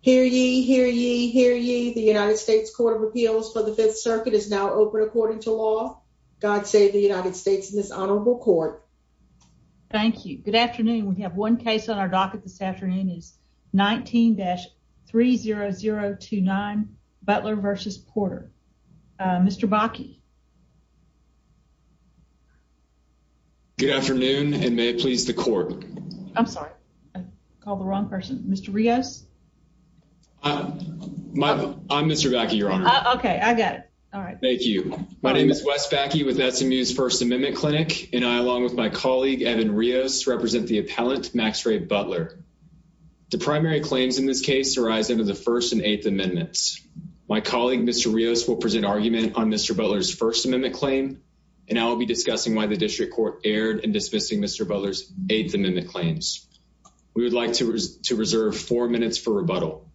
Hear ye, hear ye, hear ye. The United States Court of Appeals for the Fifth Circuit is now open according to law. God save the United States in this honorable court. Thank you. Good afternoon. We have one case on our docket this afternoon is 19-30029 Butler versus Porter. Mr Baki. Good afternoon and may it please the court. I'm sorry, I called the wrong person, Mr Rios. Uh, I'm Mr Baki, your honor. Okay, I got it. All right. Thank you. My name is Wes Baki with SMU's First Amendment Clinic, and I, along with my colleague Evan Rios, represent the appellant Max Ray Butler. The primary claims in this case arise under the First and Eighth Amendments. My colleague, Mr Rios, will present argument on Mr Butler's First Amendment claim, and I will be discussing why the district court erred in dismissing Mr Mimic claims. We would like to reserve four minutes for rebuttal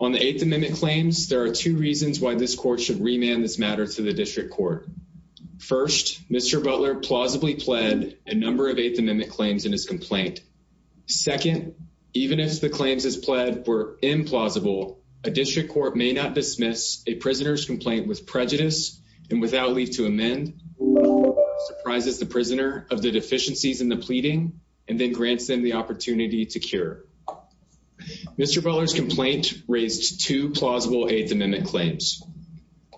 on the Eighth Amendment claims. There are two reasons why this court should remand this matter to the district court. First, Mr Butler plausibly pled a number of Eighth Amendment claims in his complaint. Second, even if the claims is pled were implausible, a district court may not dismiss a prisoner's complaint with prejudice and without leave to amend surprises the prisoner of the deficiencies in the pleading and then grants them the opportunity to cure. Mr Butler's complaint raised two plausible Eighth Amendment claims.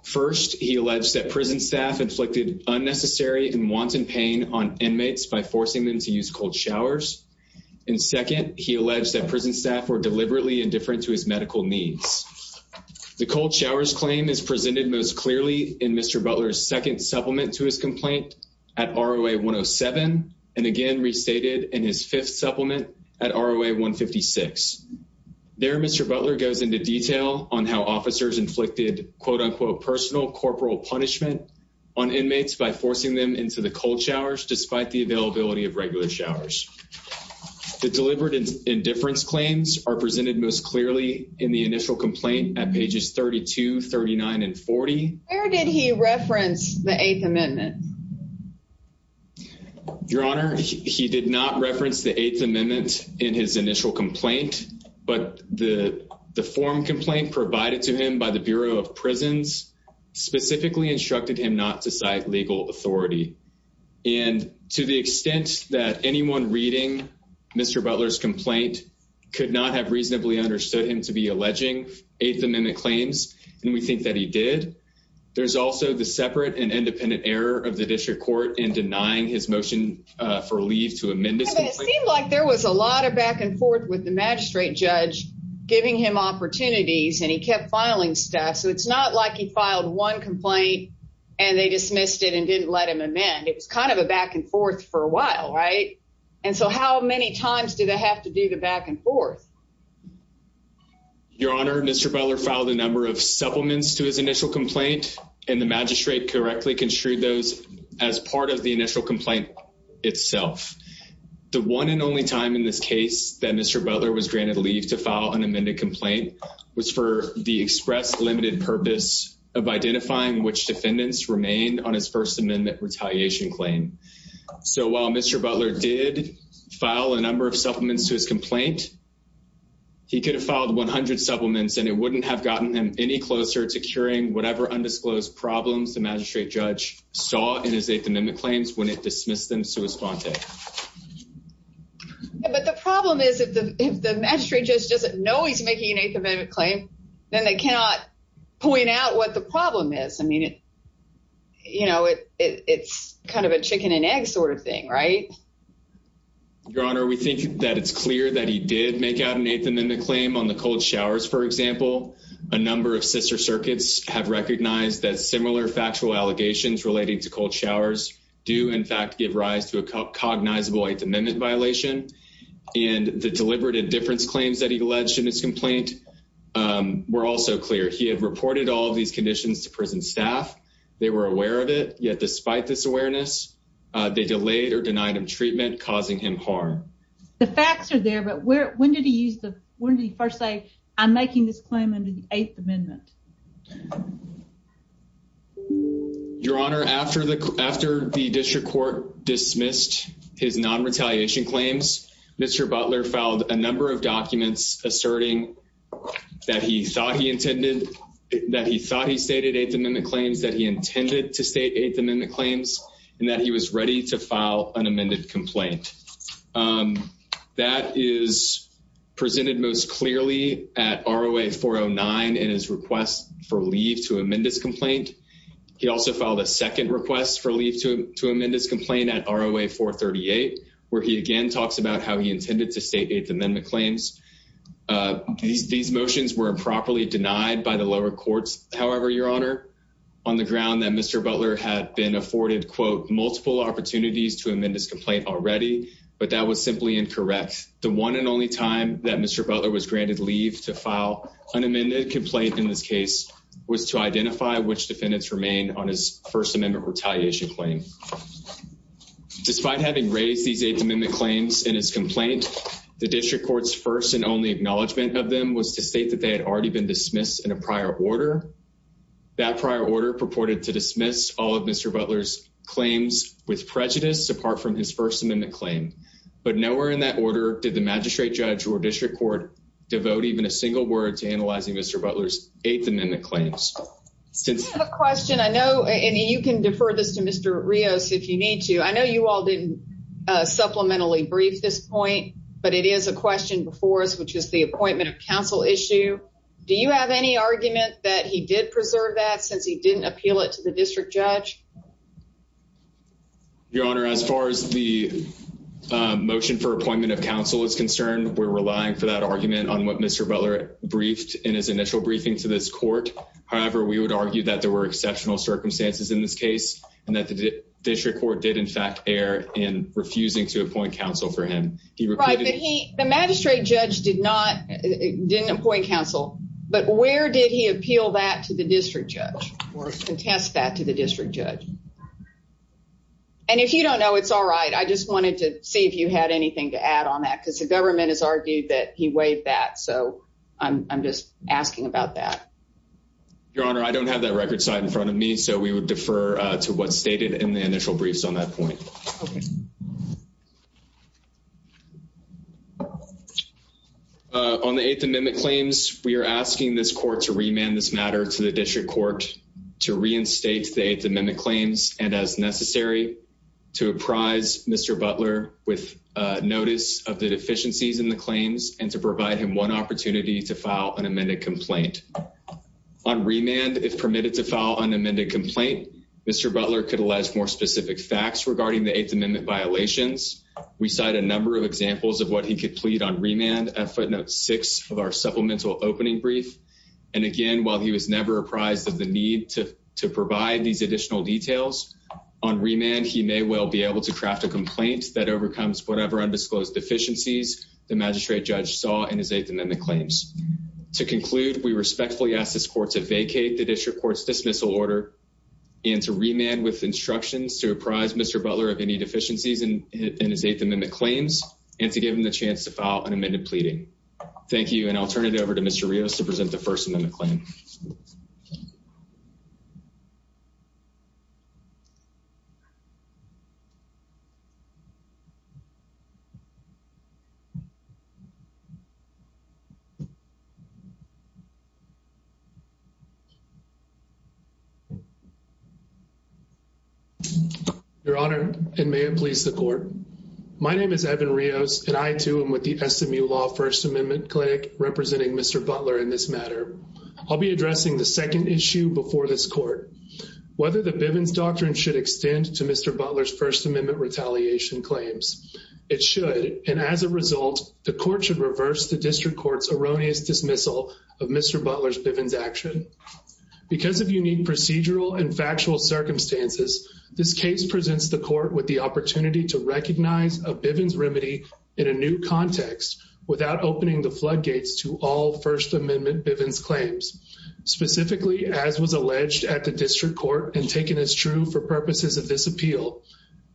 First, he alleged that prison staff inflicted unnecessary and wanton pain on inmates by forcing them to use cold showers. And second, he alleged that prison staff were deliberately indifferent to his medical needs. The cold showers claim is presented most clearly in Mr Butler's second supplement to his complaint at R. A. 107 and again restated in his fifth supplement at R. A. 1 56. There, Mr Butler goes into detail on how officers inflicted quote unquote personal corporal punishment on inmates by forcing them into the cold showers. Despite the availability of regular showers, the deliberate indifference claims are presented most clearly in the initial complaint at pages 32 39 and 40. Where did he reference the Eighth Amendment? Your Honor, he did not reference the Eighth Amendment in his initial complaint, but the form complaint provided to him by the Bureau of Prisons specifically instructed him not to cite legal authority. And to the extent that anyone reading Mr Butler's complaint could not have reasonably understood him to be alleging Eighth Amendment claims. And we think that he did. There's also the separate and independent error of the district court and denying his motion for leave to amend this. It seemed like there was a lot of back and forth with the magistrate judge giving him opportunities and he kept filing stuff. So it's not like he filed one complaint and they dismissed it and didn't let him amend. It was kind of a back and forth for a while, right? And so how many times do they have to do the back and forth? Your Honor, Mr Butler filed a number of supplements to his initial complaint and the magistrate correctly construed those as part of the initial complaint itself. The one and only time in this case that Mr Butler was granted leave to file an amended complaint was for the express limited purpose of identifying which defendants remain on his First Amendment retaliation claim. So while Mr Butler did file a number of supplements to his complaint, he could have filed 100 supplements and it wouldn't have gotten him any closer to curing whatever undisclosed problems the magistrate judge saw in his Eighth Amendment claims when it dismissed them sua sponte. But the problem is if the magistrate just doesn't know he's making an Eighth Amendment claim, then they cannot point out what the problem is. I mean, you know, it's kind of a chicken and egg sort of thing, right? Your Honor, we think that it's clear that he did make out an Eighth Amendment claim on the cold showers. For example, a number of sister circuits have recognized that similar factual allegations relating to cold showers do in fact give rise to a cognizable Eighth Amendment violation. And the deliberate indifference claims that he alleged in his complaint, um, were also clear. He had reported all of these conditions to prison staff. They were treatment causing him hard. The facts are there. But where? When did he use the? When did he first say I'm making this claim under the Eighth Amendment? Your Honor, after the after the district court dismissed his non retaliation claims, Mr Butler found a number of documents asserting that he thought he intended that he thought he stated Eighth Amendment claims that he intended to state Eighth Amendment claims and that he was ready to file an amended complaint. Um, that is presented most clearly at our away 409 and his request for leave to amend his complaint. He also filed a second request for leave to amend his complaint at our away 4 38, where he again talks about how he intended to state Eighth Amendment claims. Uh, these these motions were improperly denied by the lower courts. However, Your Honor, on the ground that Mr Butler had been afforded, quote, to amend his complaint already, but that was simply incorrect. The one and only time that Mr Butler was granted leave to file unamended complaint in this case was to identify which defendants remain on his First Amendment retaliation claim. Despite having raised these Eighth Amendment claims in his complaint, the district court's first and only acknowledgement of them was to state that they had already been dismissed in a prior order. That prior order purported to dismiss all of Mr Butler's claims with prejudice apart from his First Amendment claim. But nowhere in that order did the magistrate judge or district court devote even a single word to analyzing Mr Butler's Eighth Amendment claims. Since the question I know, and you can defer this to Mr Rios if you need to. I know you all didn't supplementally brief this point, but it is a question before us, which is the appointment of counsel issue. Do you have any argument that he did preserve that since he didn't appeal it to the district judge? Your Honor, as far as the motion for appointment of counsel is concerned, we're relying for that argument on what Mr Butler briefed in his initial briefing to this court. However, we would argue that there were exceptional circumstances in this case and that the district court did, in fact, air in refusing to appoint counsel for him. The magistrate judge did not didn't appoint counsel. But where did he appeal that to the district judge or contest that to the district judge? And if you don't know, it's all right. I just wanted to see if you had anything to add on that, because the government has argued that he waived that. So I'm just asking about that. Your Honor, I don't have that record side in front of me, so we would defer to what's stated in the initial briefs on that point. Okay. On the eighth amendment claims, we're asking this court to remand this matter to the district court to reinstate the eighth amendment claims and, as necessary, to apprise Mr Butler with notice of the deficiencies in the claims and to provide him one opportunity to file an amended complaint on remand. If permitted to file an amended complaint, Mr Butler could allege more specific facts regarding the eighth amendment violations. We cite a number of examples of what he could plead on remand at footnote six of our supplemental opening brief. And again, while he was never apprised of the need to to provide these additional details on remand, he may well be able to craft a complaint that overcomes whatever undisclosed deficiencies the magistrate judge saw in his eighth amendment claims. To conclude, we respectfully ask this court to vacate the district court's dismissal order and to remand with instructions to apprise Mr Butler of any deficiencies in his eighth amendment claims and to give him the chance to file an amended pleading. Thank you, and I'll turn it over to Mr Rios to present the first amendment claim. Your Honor, and may it please the court. My name is Evan Rios, and I, too, am with the SMU Law First Amendment Clinic, representing Mr Butler in this matter. I'll be addressing the second issue before this court, whether the Bivens doctrine should extend to Mr Butler's First Amendment retaliation claims. It should, and as a result, the court should reverse the district court's erroneous dismissal of Mr Butler's Bivens action. Because of unique procedural and factual circumstances, this case presents the court with the opportunity to recognize a Bivens remedy in a new context without opening the floodgates to all First Amendment Bivens claims. Specifically, as was alleged at the district court and taken as true for purposes of this appeal,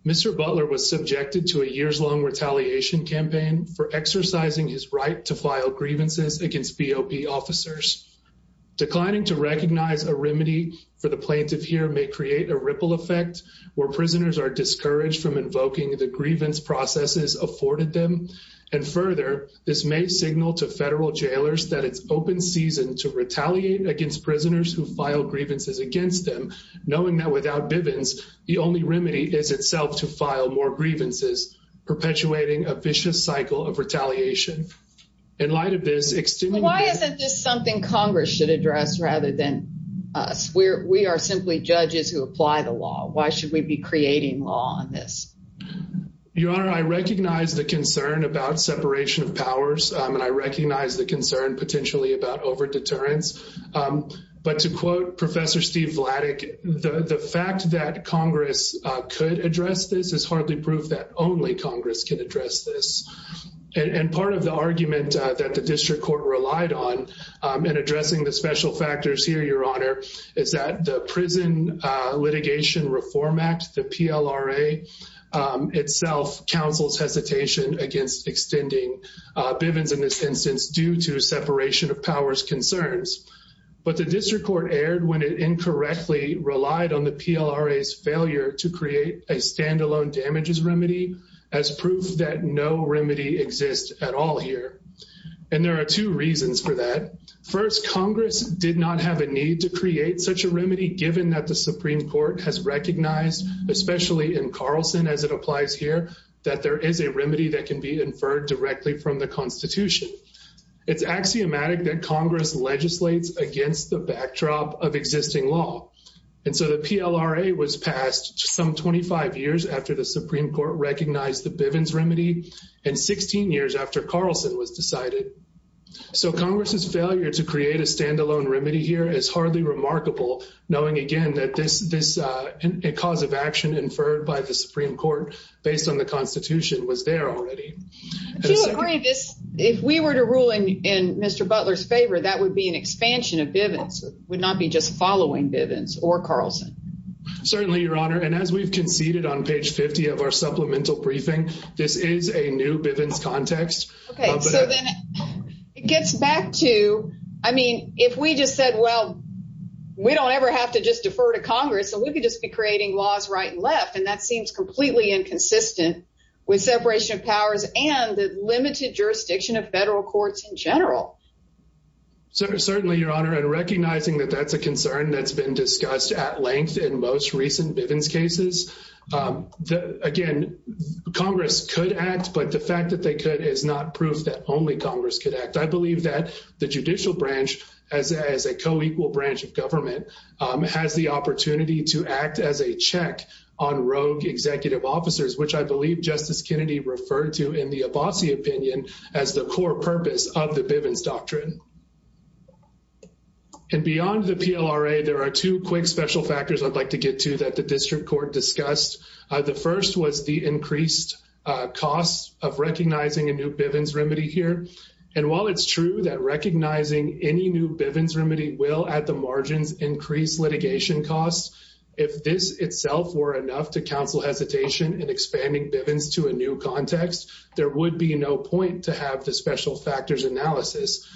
Mr Butler was subjected to a years-long retaliation campaign for exercising his right to file grievances against BOP officers. Declining to recognize a remedy for the plaintiff here may create a ripple effect where prisoners are discouraged from invoking the grievance processes afforded them. And further, this may signal to federal jailers that it's open season to retaliate against prisoners who file grievances against them, knowing that without Bivens, the only remedy is itself to file more This is a vicious cycle of retaliation. In light of this, extending the... Why isn't this something Congress should address rather than us? We are simply judges who apply the law. Why should we be creating law on this? Your Honor, I recognize the concern about separation of powers, and I recognize the concern potentially about over-deterrence. But to quote Professor Steve Vladek, the fact that Congress could address this is hardly proof that only Congress can address this. And part of the argument that the district court relied on in addressing the special factors here, Your Honor, is that the Prison Litigation Reform Act, the PLRA, itself counsels hesitation against extending Bivens in this instance due to when it incorrectly relied on the PLRA's failure to create a standalone damages remedy as proof that no remedy exists at all here. And there are two reasons for that. First, Congress did not have a need to create such a remedy given that the Supreme Court has recognized, especially in Carlson as it applies here, that there is a remedy that can be inferred directly from the Constitution. It's axiomatic that Congress legislates against the backdrop of existing law. And so the PLRA was passed some 25 years after the Supreme Court recognized the Bivens remedy, and 16 years after Carlson was decided. So Congress's failure to create a standalone remedy here is hardly remarkable, knowing, again, that this cause of action inferred by the Supreme Court based on the Constitution was there already. To agree to this, if we were to rule in Mr. Butler's favor, that would be an expansion of Bivens. It would not be just following Bivens or Carlson. Certainly, Your Honor. And as we've conceded on page 50 of our supplemental briefing, this is a new Bivens context. Okay, so then it gets back to, I mean, if we just said, well, we don't ever have to just defer to Congress, so we could just be creating laws right and left. And that seems completely inconsistent with separation of powers and the limited jurisdiction of federal courts in general. Certainly, Your Honor. And recognizing that that's a concern that's been discussed at length in most recent Bivens cases. Again, Congress could act, but the fact that they could is not proof that only Congress could act. I believe that the judicial branch, as a co-equal branch of government, has the opportunity to act as a check on rogue executive officers, which I believe Justice Kennedy referred to in the Abbasi opinion as the core purpose of the Bivens doctrine. And beyond the PLRA, there are two quick special factors I'd like to get to that the district court discussed. The first was the increased cost of recognizing a new Bivens remedy here. And while it's true that recognizing any new Bivens remedy will, at the margins, increase litigation costs, if this itself were enough to counsel hesitation in expanding Bivens to a new context, there would be no point to have the special factors analysis.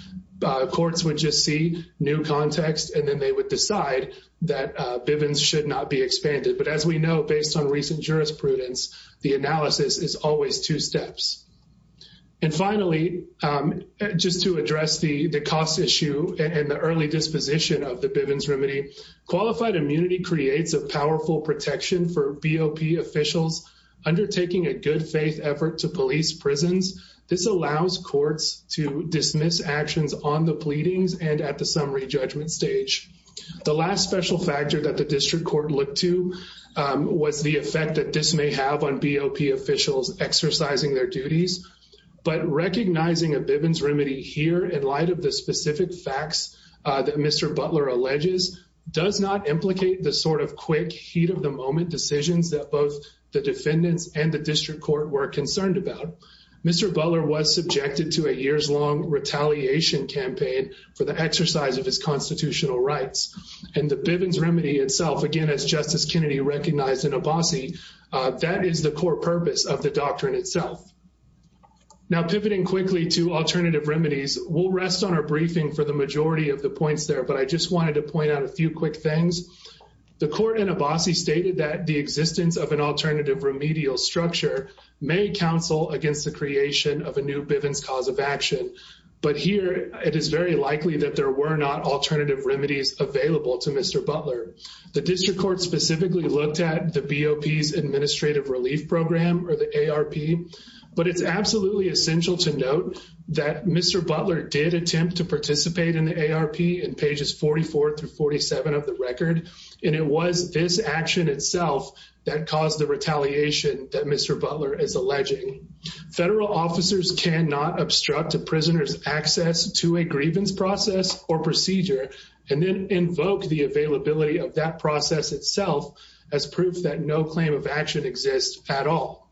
Courts would just see new context and then they would decide that Bivens should not be expanded. But as we know, based on recent jurisprudence, the analysis is always two steps. And finally, just to address the cost issue and the early disposition of the Bivens remedy, qualified immunity creates a powerful protection for BOP officials undertaking a good faith effort to police prisons. This allows courts to dismiss actions on the pleadings and at the summary judgment stage. The last special factor that the district court looked to was the effect that this may have on BOP officials exercising their duties. But recognizing a Bivens remedy here in light of the specific facts that Mr. Butler alleges does not implicate the sort of quick heat-of-the-moment decisions that both the defendants and the district court were concerned about, Mr. Butler was subjected to a years-long retaliation campaign for the exercise of his constitutional rights. And the Bivens remedy itself, again, as Justice Kennedy recognized in Abbasi, that is the core purpose of the doctrine itself. Now pivoting quickly to alternative remedies, we'll rest on our briefing for the majority of the points there, but I just wanted to point out a few quick things. The court in Abbasi stated that the existence of an alternative remedial structure may counsel against the creation of a new Bivens cause of action. But here, it is very likely that there were not alternative remedies available to Mr. Butler. The district court specifically looked at the BOP's administrative relief program, or the ARP, but it's absolutely essential to note that Mr. Butler did attempt to participate in the ARP in pages 44 through 47 of the record, and it was this action itself that caused the retaliation that Mr. Butler is alleging. Federal officers cannot obstruct a prisoner's access to a grievance process or procedure and then invoke the availability of that process itself as proof that no claim of action exists at all.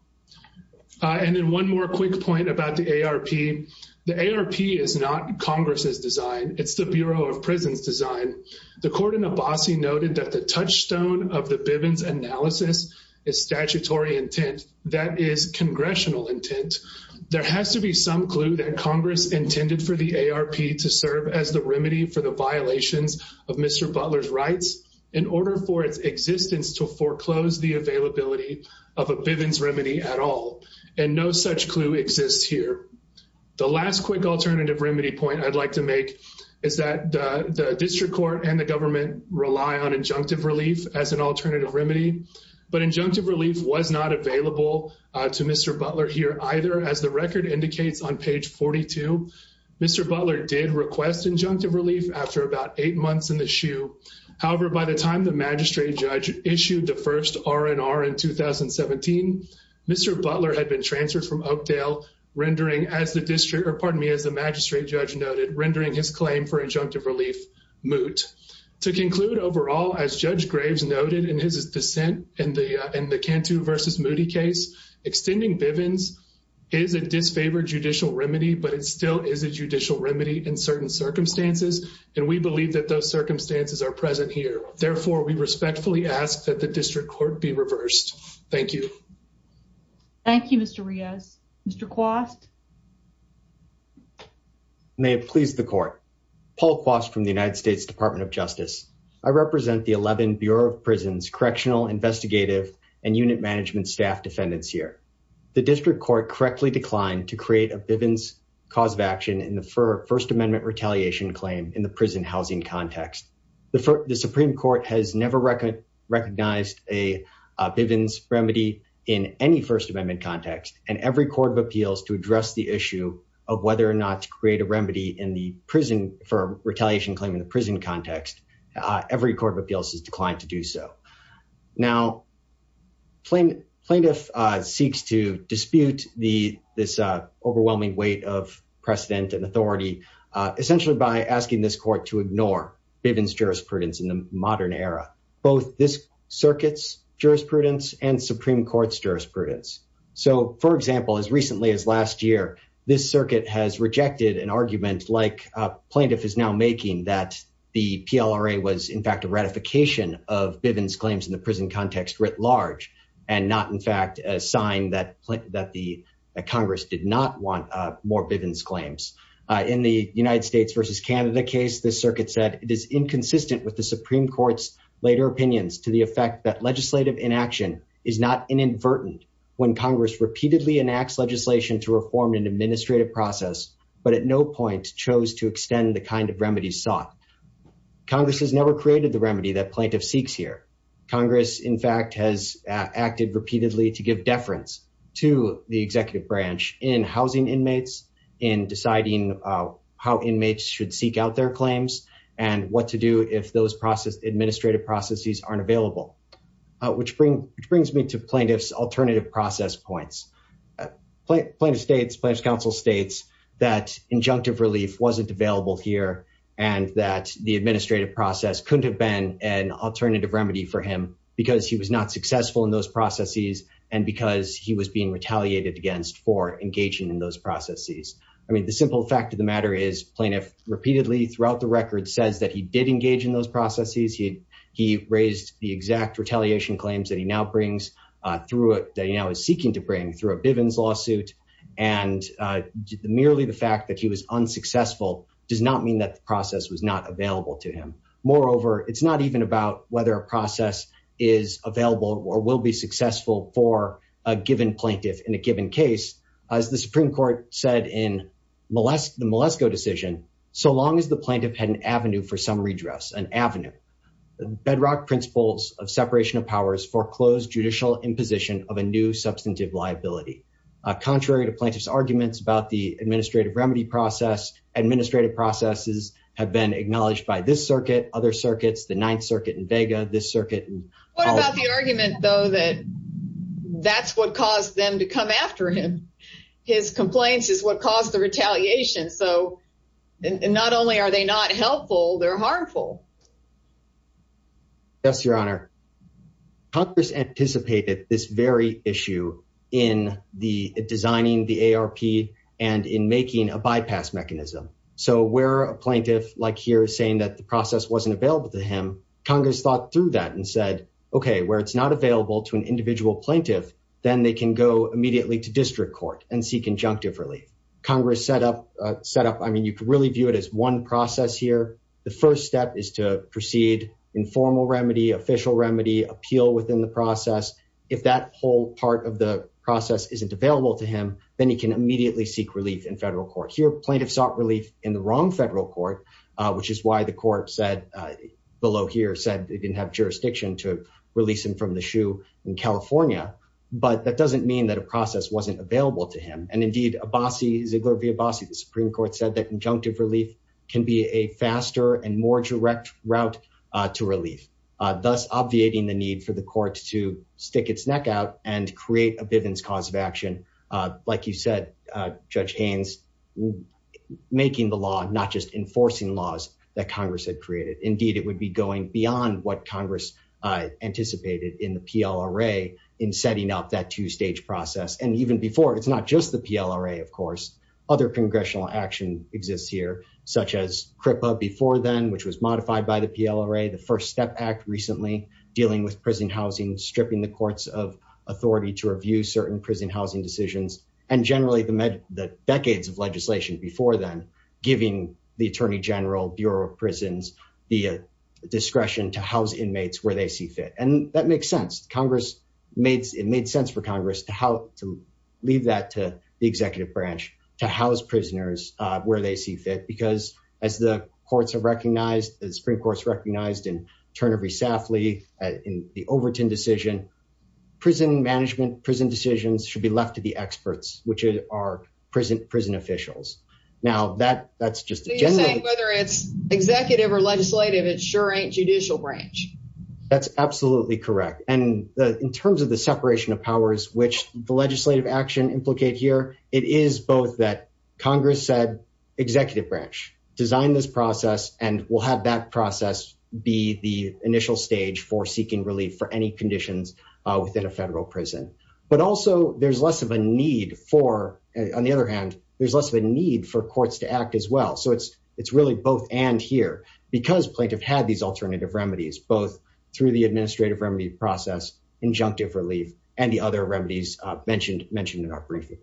And then one more quick point about the ARP. The ARP is not Congress's design. It's the Bureau of Prison's design. The court in Abbasi noted that the touchstone of the Bivens analysis is statutory intent. That is congressional intent. There has to be some clue that Congress intended for the ARP to serve as the remedy for the violations of Mr. Butler's rights in order for its existence to foreclose the availability of a Bivens remedy at all, and no such clue exists here. The last quick alternative remedy point I'd like to make is that the district court and the government rely on injunctive relief as an alternative remedy, but injunctive relief was not available to Mr. Butler here either. As the record indicates on page 42, Mr. Butler did request injunctive relief after about eight months in the shoe. However, by the time the magistrate judge issued the first R&R in 2017, Mr. Butler had been transferred from Oakdale, rendering as the district, or pardon me, as the magistrate judge noted, rendering his claim for injunctive relief to the district court. As a matter of fact, Mr. Butler did not request injunctive relief at all. As Judge Graves noted in his dissent in the Cantu v. Moody case, extending Bivens is a disfavored judicial remedy, but it still is a judicial remedy in certain circumstances, and we believe that those circumstances are present here. Therefore, we respectfully ask that the district court be reversed. Thank you. Thank you, Mr. Riaz. Mr. Quast? Thank you, Mr. Riaz. I represent the 11 Bureau of Prisons Correctional, Investigative, and Unit Management staff defendants here. The district court correctly declined to create a Bivens cause of action in the First Amendment retaliation claim in the prison housing context. The Supreme Court has never recognized a Bivens remedy in any First Amendment context, and every court of appeals to address the issue of whether or not to create a remedy in the prison for retaliation claim in the prison context, every court of appeals has declined to do so. Now, plaintiff seeks to dispute this overwhelming weight of precedent and authority essentially by asking this court to ignore Bivens jurisprudence in the modern era, both this circuit's jurisprudence and Supreme Court's jurisprudence. So, for example, as recently as last year, this circuit has rejected an argument like plaintiff is now making that the PLRA was in fact a ratification of Bivens claims in the prison context writ large and not in fact a sign that the Congress did not want more Bivens claims. In the United States versus Canada case, the circuit said it is inconsistent with the Supreme Court's later opinions to the effect that legislative inaction is not inadvertent when Congress repeatedly enacts legislation to reform an administrative process, but at no point chose to extend the kind of remedies sought. Congress has never created the remedy that plaintiff seeks here. Congress in fact has acted repeatedly to give deference to the executive branch in housing inmates in deciding how inmates should seek out their claims and what to do if those administrative processes aren't available, which brings me to plaintiff's alternative process points. Plaintiff states, plaintiff's counsel states that injunctive relief wasn't available here and that the administrative process couldn't have been an alternative remedy for him because he was not successful in those processes and because he was being retaliated against for engaging in those processes. I mean, the simple fact of the matter is plaintiff repeatedly throughout the record says that he did engage in those processes. He raised the exact retaliation claims that he now brings through it, that he now is seeking to bring through a Bivens lawsuit and merely the fact that he was unsuccessful does not mean that the process was not available to him. Moreover, it's not even about whether a process is available or will be successful for a given plaintiff in a given case. As the Supreme Court said in the Malesko decision, so long as the plaintiff had an avenue for some foreclosed judicial imposition of a new substantive liability. Contrary to plaintiff's arguments about the administrative remedy process, administrative processes have been acknowledged by this circuit, other circuits, the Ninth Circuit in Vega, this circuit. What about the argument though that that's what caused them to come after him? His complaints is what caused the retaliation. So not only are they not helpful, they're harmful. Yes, Your Honor. Congress anticipated this very issue in the designing the ARP and in making a bypass mechanism. So where a plaintiff like here is saying that the process wasn't available to him, Congress thought through that and said, okay, where it's not available to an individual plaintiff, then they can go immediately to district court and seek conjunctive relief. Congress set up, I mean, you could really view it as one process here. The first step is to proceed, informal remedy, official remedy, appeal within the process. If that whole part of the process isn't available to him, then he can immediately seek relief in federal court. Here, plaintiff sought relief in the wrong federal court, which is why the court said, below here, said they didn't have jurisdiction to release him from the shoe in California. But that doesn't mean that a process wasn't available to him. And indeed, Abbasi, Ziegler v. Abbasi, the conjunctive relief can be a faster and more direct route to relief, thus obviating the need for the court to stick its neck out and create a Bivens cause of action. Like you said, Judge Haynes, making the law, not just enforcing laws that Congress had created. Indeed, it would be going beyond what Congress anticipated in the PLRA in setting up that two-stage process. And even before, it's not just the PLRA, of course. Other congressional action exists here, such as CRIPA before then, which was modified by the PLRA, the First Step Act recently, dealing with prison housing, stripping the courts of authority to review certain prison housing decisions, and generally the decades of legislation before then, giving the Attorney General, Bureau of Prisons, the discretion to house inmates where they see fit. And that makes sense. It made sense for Congress to leave that to the executive branch, to house prisoners where they see fit, because as the courts have recognized, the Supreme Court's recognized in Turnery-Safley, in the Overton decision, prison management, prison decisions should be left to the experts, which are prison officials. Now, that's just generally... So you're saying whether it's executive or legislative, it sure ain't judicial branch. That's absolutely correct. And in terms of the separation of powers, which the legislative action implicate here, it is both that Congress said, executive branch, design this process, and we'll have that process be the initial stage for seeking relief for any conditions within a federal prison. But also, there's less of a need for... On the other hand, there's less of a need for courts to act as well. So it's really both and here, because plaintiff had these alternative remedies, both through the process, injunctive relief, and the other remedies mentioned in our briefing.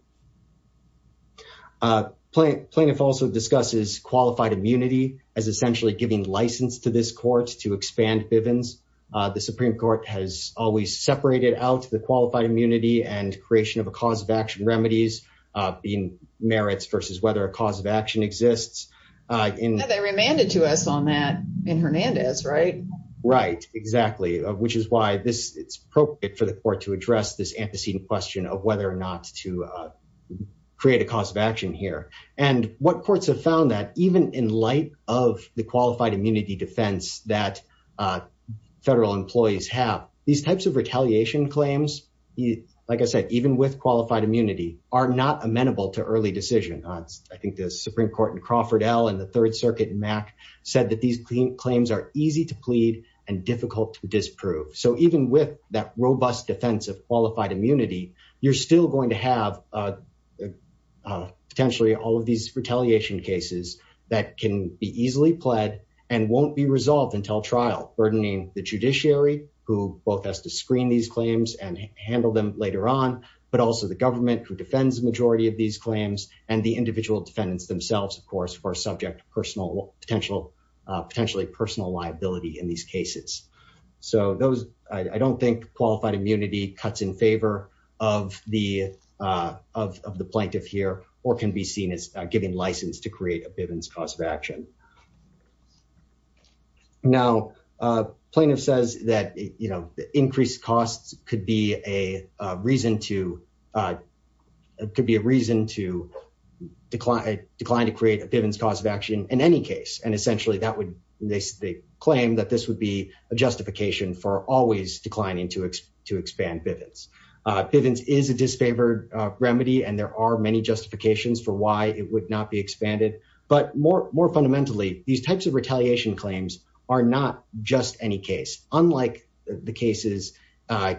Plaintiff also discusses qualified immunity as essentially giving license to this court to expand Bivens. The Supreme Court has always separated out the qualified immunity and creation of a cause of action remedies, being merits versus whether a cause of action exists. Now, they remanded to us on that in Hernandez, right? Right, exactly, which is why it's appropriate for the court to address this antecedent question of whether or not to create a cause of action here. And what courts have found that even in light of the qualified immunity defense that federal employees have, these types of retaliation claims, like I said, even with qualified immunity, are not amenable to early decision. I think the Supreme Court in Crawford L. and the Third Circuit in Mack said that these claims are easy to plead and difficult to disprove. So even with that robust defense of qualified immunity, you're still going to have potentially all of these retaliation cases that can be easily pled and won't be resolved until trial, burdening the judiciary, who both has to screen these claims and handle them later on, but also the government who defends the majority of these claims, and the individual defendants themselves, of course, who are subject to potentially personal liability in these cases. So those, I don't think qualified immunity cuts in favor of the plaintiff here, or can be seen as giving license to create a Bivens cause of action. Now, plaintiff says that, you know, increased costs could be a reason to decline to create a Bivens cause of action in any case, and essentially that would, they claim that this would be a justification for always declining to expand Bivens. Bivens is a disfavored remedy, and there are many justifications for why it would not be expanded. But more fundamentally, these types of retaliation claims are not just any case. Unlike the cases,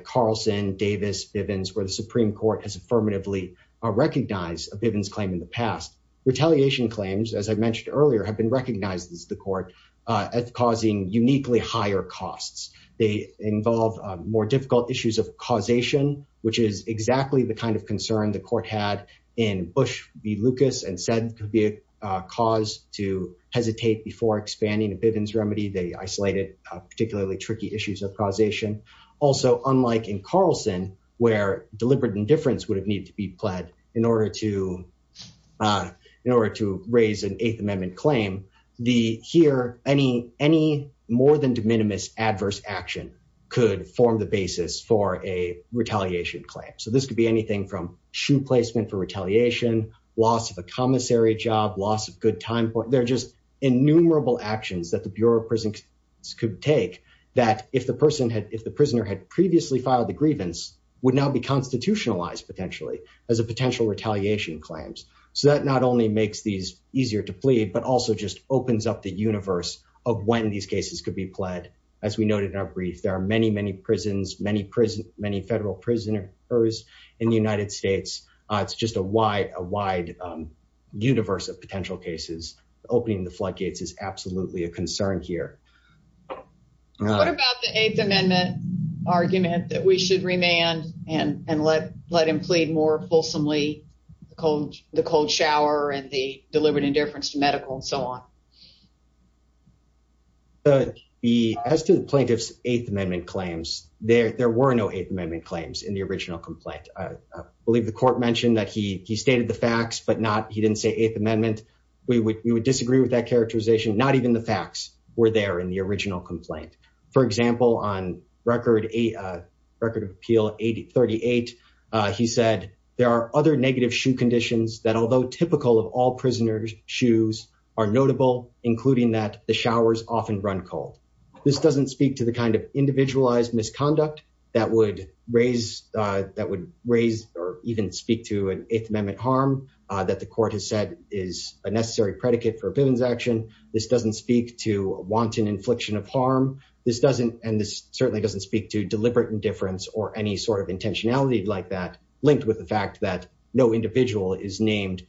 Carlson, Davis, Bivens, where the Supreme Court has affirmatively recognized a Bivens claim in the past, retaliation claims, as I mentioned earlier, have been recognized as the court, as causing uniquely higher costs. They involve more difficult issues of causation, which is exactly the kind of concern the court had in Bush v. Lucas, and said could be a cause to hesitate before expanding a Bivens remedy. They isolated particularly tricky issues of causation. Also, unlike in Carlson, where deliberate indifference would have needed to be pled in order to raise an Eighth Amendment claim, here, any more than de minimis adverse action could form the basis for a retaliation claim. So this could be anything from shoe placement for retaliation, loss of a commissary job, loss of good time. They're just innumerable actions that the Bureau of Prisons could take, that if the person had, if the prisoner had previously filed the grievance, would now be constitutionalized, potentially, as a potential retaliation claims. So that not only makes these easier to plead, but also just opens up the universe of when these cases could be pled. As we noted in our brief, there are many, many prisons, many federal prisoners in the United States. It's just a wide universe of potential cases. Opening the floodgates is absolutely a concern here. What about the Eighth Amendment argument that we should remand and let him plead more fulsomely, the cold shower and the deliberate indifference to medical and so on? As to the plaintiff's Eighth Amendment claims, there were no Eighth Amendment claims in the original complaint. I believe the court mentioned that he stated the facts, but he didn't say Eighth Amendment. We would disagree with that characterization. Not even the facts were there in the 1838. He said there are other negative shoe conditions that although typical of all prisoners' shoes are notable, including that the showers often run cold. This doesn't speak to the kind of individualized misconduct that would raise, that would raise or even speak to an Eighth Amendment harm that the court has said is a necessary predicate for a pittance action. This doesn't speak to wanton infliction of harm. This doesn't, and this certainly doesn't speak to deliberate indifference or any sort of intentionality like that linked with the fact that no individual is named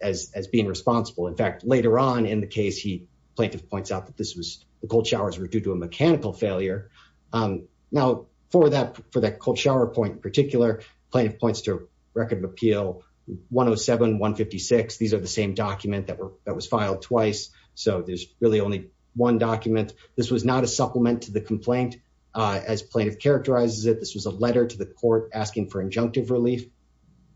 as being responsible. In fact, later on in the case, the plaintiff points out that this was, the cold showers were due to a mechanical failure. Now for that cold shower point in particular, plaintiff points to Record of Appeal 107-156. These are the same document that were, that was filed twice. So there's really only one document. This was not a supplement to the complaint as plaintiff characterizes it. This was a letter to the court asking for injunctive relief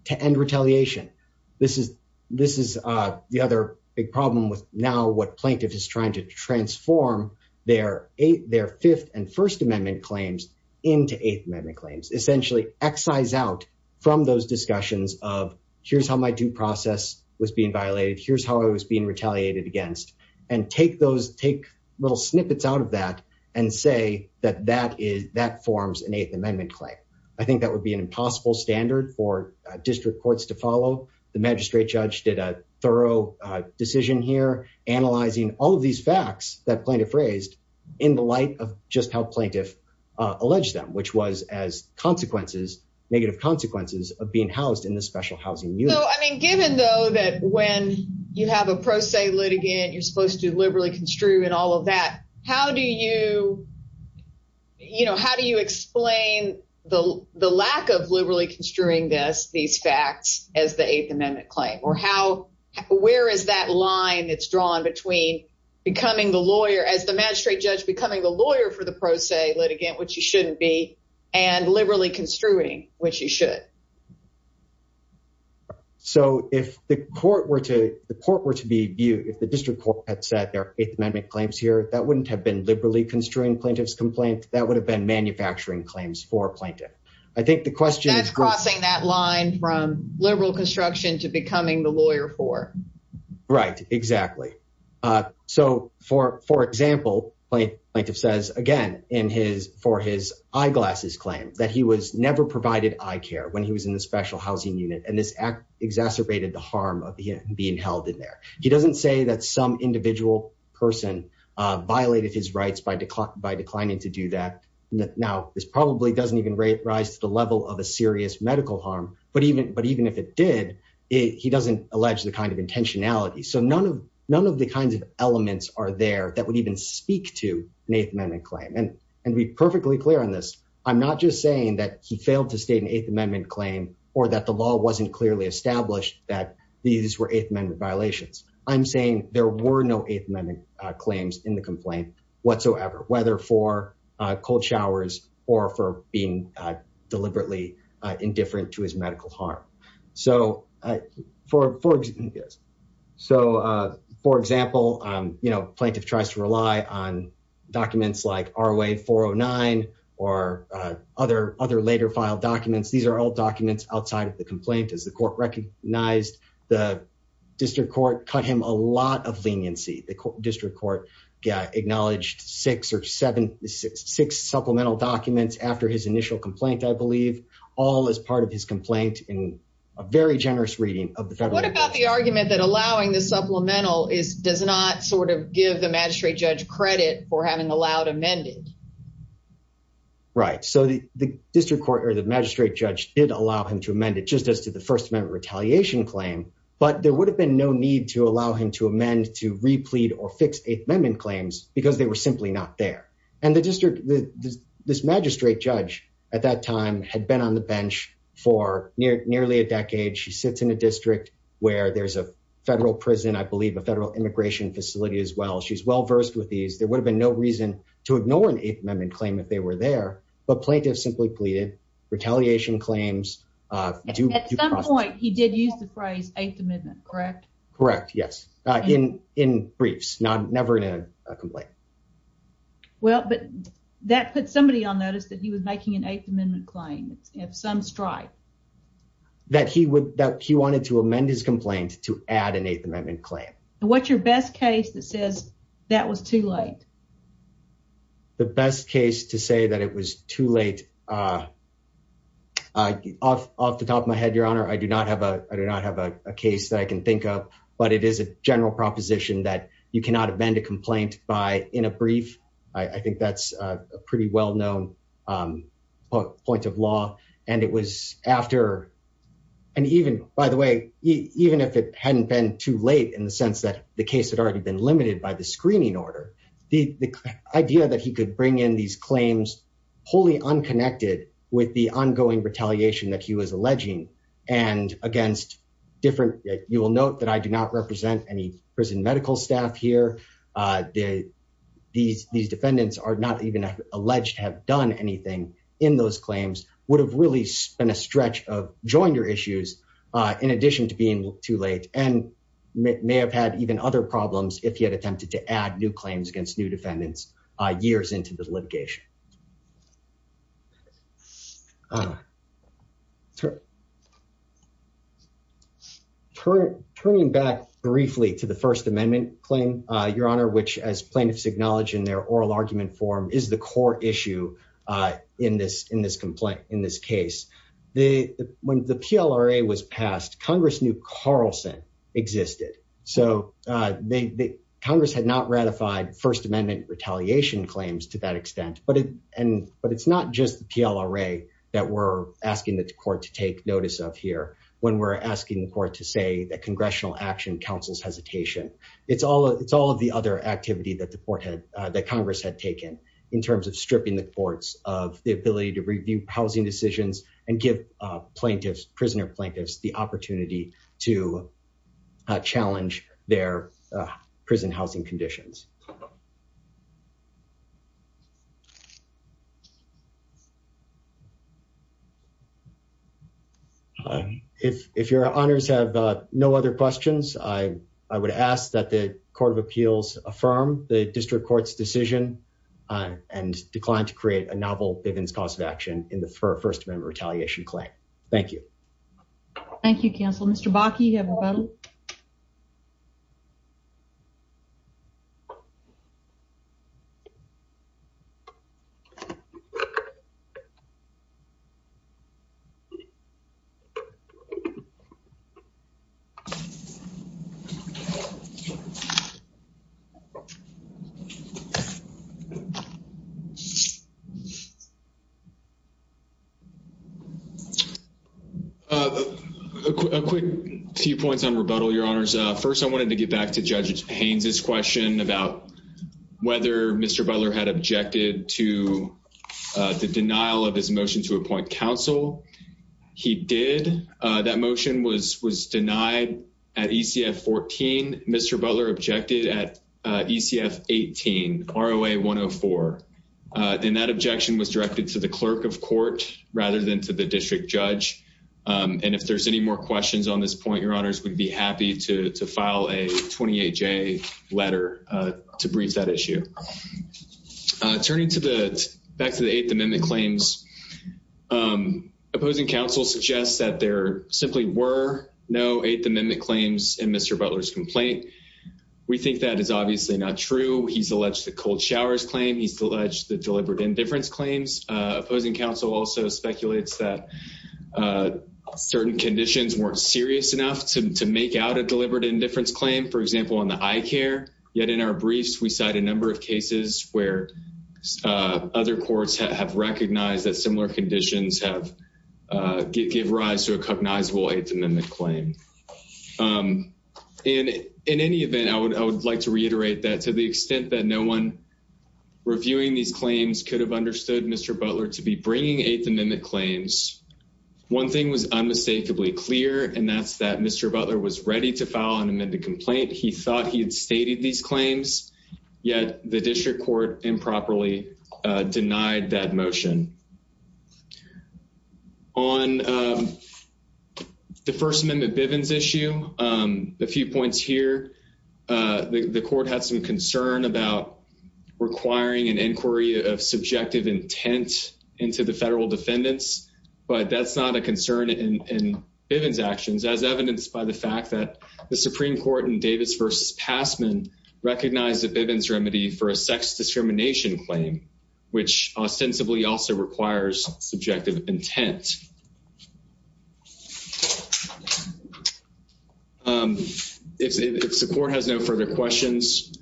to end retaliation. This is, this is the other big problem with now what plaintiff is trying to transform their Eighth, their Fifth and First Amendment claims into Eighth Amendment claims. Essentially excise out from those discussions of here's how my due process was being violated. Here's how I was being retaliated against and take those, take little snippets out of that and say that that is, that forms an Eighth Amendment claim. I think that would be an impossible standard for district courts to follow. The magistrate judge did a thorough decision here analyzing all of these facts that plaintiff raised in the light of just how plaintiff alleged them, which was as consequences, negative consequences of being housed in the special housing unit. So I mean given though that when you have a pro se litigant, you're how do you, you know, how do you explain the lack of liberally construing this, these facts as the Eighth Amendment claim or how, where is that line that's drawn between becoming the lawyer as the magistrate judge becoming the lawyer for the pro se litigant, which you shouldn't be and liberally construing which you should. So if the court were to, the court were to be viewed, if the district court had said there are Eighth Amendment claims here, that wouldn't have been liberally construing plaintiff's complaint, that would have been manufacturing claims for a plaintiff. I think the question- That's crossing that line from liberal construction to becoming the lawyer for. Right, exactly. So for example, plaintiff says again in his, for his eyeglasses claim that he was never provided eye care when he was in the special housing unit and this exacerbated the harm of being held in there. He doesn't say that some individual person violated his rights by declining to do that. Now, this probably doesn't even rise to the level of a serious medical harm, but even if it did, he doesn't allege the kind of intentionality. So none of the kinds of elements are there that would even speak to an Eighth Amendment claim. And to be perfectly clear on this, I'm not just saying that he failed to state an Eighth Amendment claim or that the law wasn't clearly established that these were Eighth Amendment violations. I'm saying there were no Eighth Amendment claims in the complaint whatsoever, whether for cold showers or for being deliberately indifferent to his medical harm. So for example, you know, plaintiff tries to rely on documents like ROA 409 or other later filed documents. These are all documents outside of the complaint. As the court recognized, the district court cut him a lot of leniency. The district court acknowledged six or seven, six supplemental documents after his initial complaint, I believe, all as part of his complaint in a very generous reading of the federal. What about the argument that allowing the supplemental is, does not sort of give the magistrate judge credit for having allowed amended? Right. So the district court or the magistrate judge did allow him to amend it just as to the First Amendment retaliation claim, but there would have been no need to allow him to amend to replete or fix Eighth Amendment claims because they were simply not there. And the district, this magistrate judge at that time had been on the bench for nearly a decade. She sits in a district where there's a federal prison, I believe a federal immigration facility as well. She's well versed with these. There would have been no reason to ignore an Eighth Amendment claim if they were there, but plaintiffs simply pleaded, retaliation claims. At some point, he did use the phrase Eighth Amendment, correct? Correct. Yes, in briefs, not never in a complaint. Well, but that put somebody on notice that he was making an Eighth Amendment claim if some strike. That he would, that he wanted to amend his complaint to add an Eighth Amendment claim. What's your best case that says that was too late? The best case to say that it was too late, off the top of my head, Your Honor, I do not have a, I do not have a case that I can think of, but it is a general proposition that you cannot amend a complaint by in a brief. I think that's a pretty well-known point of law and it was after and even, by the way, even if it hadn't been too late in the sense that the case had already been limited by the screening order, the idea that he could bring in these claims wholly unconnected with the ongoing retaliation that he was alleging and against different, you will note that I do not represent any prison medical staff here. These defendants are not even alleged to have done anything in those claims, would have really been a stretch of joiner issues in addition to being too late and may have had even other problems if he had attempted to add new claims against new defendants years into the litigation. Turning back briefly to the First Amendment claim, Your Honor, which as plaintiffs acknowledge in their oral argument form is the core issue in this complaint, in this case. When the PLRA was passed, Congress knew Carlson existed. So Congress had not ratified First Amendment retaliation claims to that extent, but it's not just the PLRA that we're asking the court to take notice of here when we're asking the court to say that congressional action counsels hesitation. It's all of the other activity that the court had, that Congress had taken in terms of stripping the courts of the ability to and give plaintiffs, prisoner plaintiffs, the opportunity to challenge their prison housing conditions. If Your Honors have no other questions, I would ask that the Court of Appeals affirm the District Court's decision and decline to create a novel Bivens cause of action in the First Amendment retaliation claim. Thank you. Thank you, counsel. Mr. Bakke, you have a vote. A quick few points on rebuttal, Your Honors. First, I wanted to get back to Judge Payne's question about whether Mr. Butler had objected to the denial of his motion to appoint counsel. He did. That motion was denied at ECF 14. Mr. Butler objected at ECF 18, ROA 104, and that objection was directed to the clerk of court rather than to the district judge. And if there's any more questions on this point, Your Honors, we'd be happy to file a 28-J letter to brief that issue. Turning back to the Eighth Amendment claims, opposing counsel suggests that there simply were no Eighth Amendment claims in Mr. Butler's complaint. We think that is obviously not true. He's alleged the cold showers claim. He's alleged the deliberate indifference claims. Opposing counsel also speculates that certain conditions weren't serious enough to make out a deliberate indifference claim. For example, on the eye care. Yet in our briefs, we cite a number of cases where other courts have recognized that similar conditions give rise to a cognizable Eighth Amendment claim. And in any event, I would like to reiterate that to the extent that no one reviewing these claims could have understood Mr. Butler to be bringing Eighth Amendment claims. One thing was unmistakably clear, and that's that Mr. Butler was ready to file an amended complaint. He thought he had stated these claims, yet the district court improperly denied that motion. On the First Amendment Bivens issue, a few points here. The court had some concern about requiring an inquiry of subjective intent into the federal defendants, but that's not a concern in Bivens actions as evidenced by the fact that the Supreme Court in Davis v. Passman recognized the Bivens remedy for a sex discrimination claim, which ostensibly also requires subjective intent. If the court has no further questions,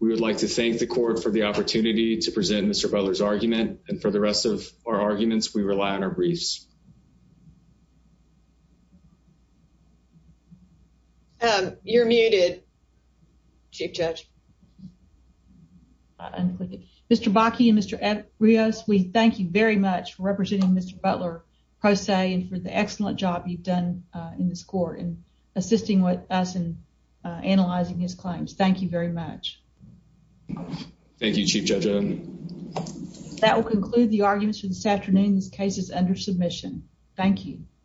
we would like to thank the court for the opportunity to present Mr. Butler's argument and for the rest of our arguments, we rely on our briefs. You're muted, Chief Judge. Mr. Bakke and Mr. Arias, we thank you very much for representing Mr. Butler pro se and for the excellent job you've done in this court in assisting with us in analyzing his claims. Thank you very much. Thank you, Chief Judge Owen. That will conclude the arguments for this afternoon's cases under submission. Thank you.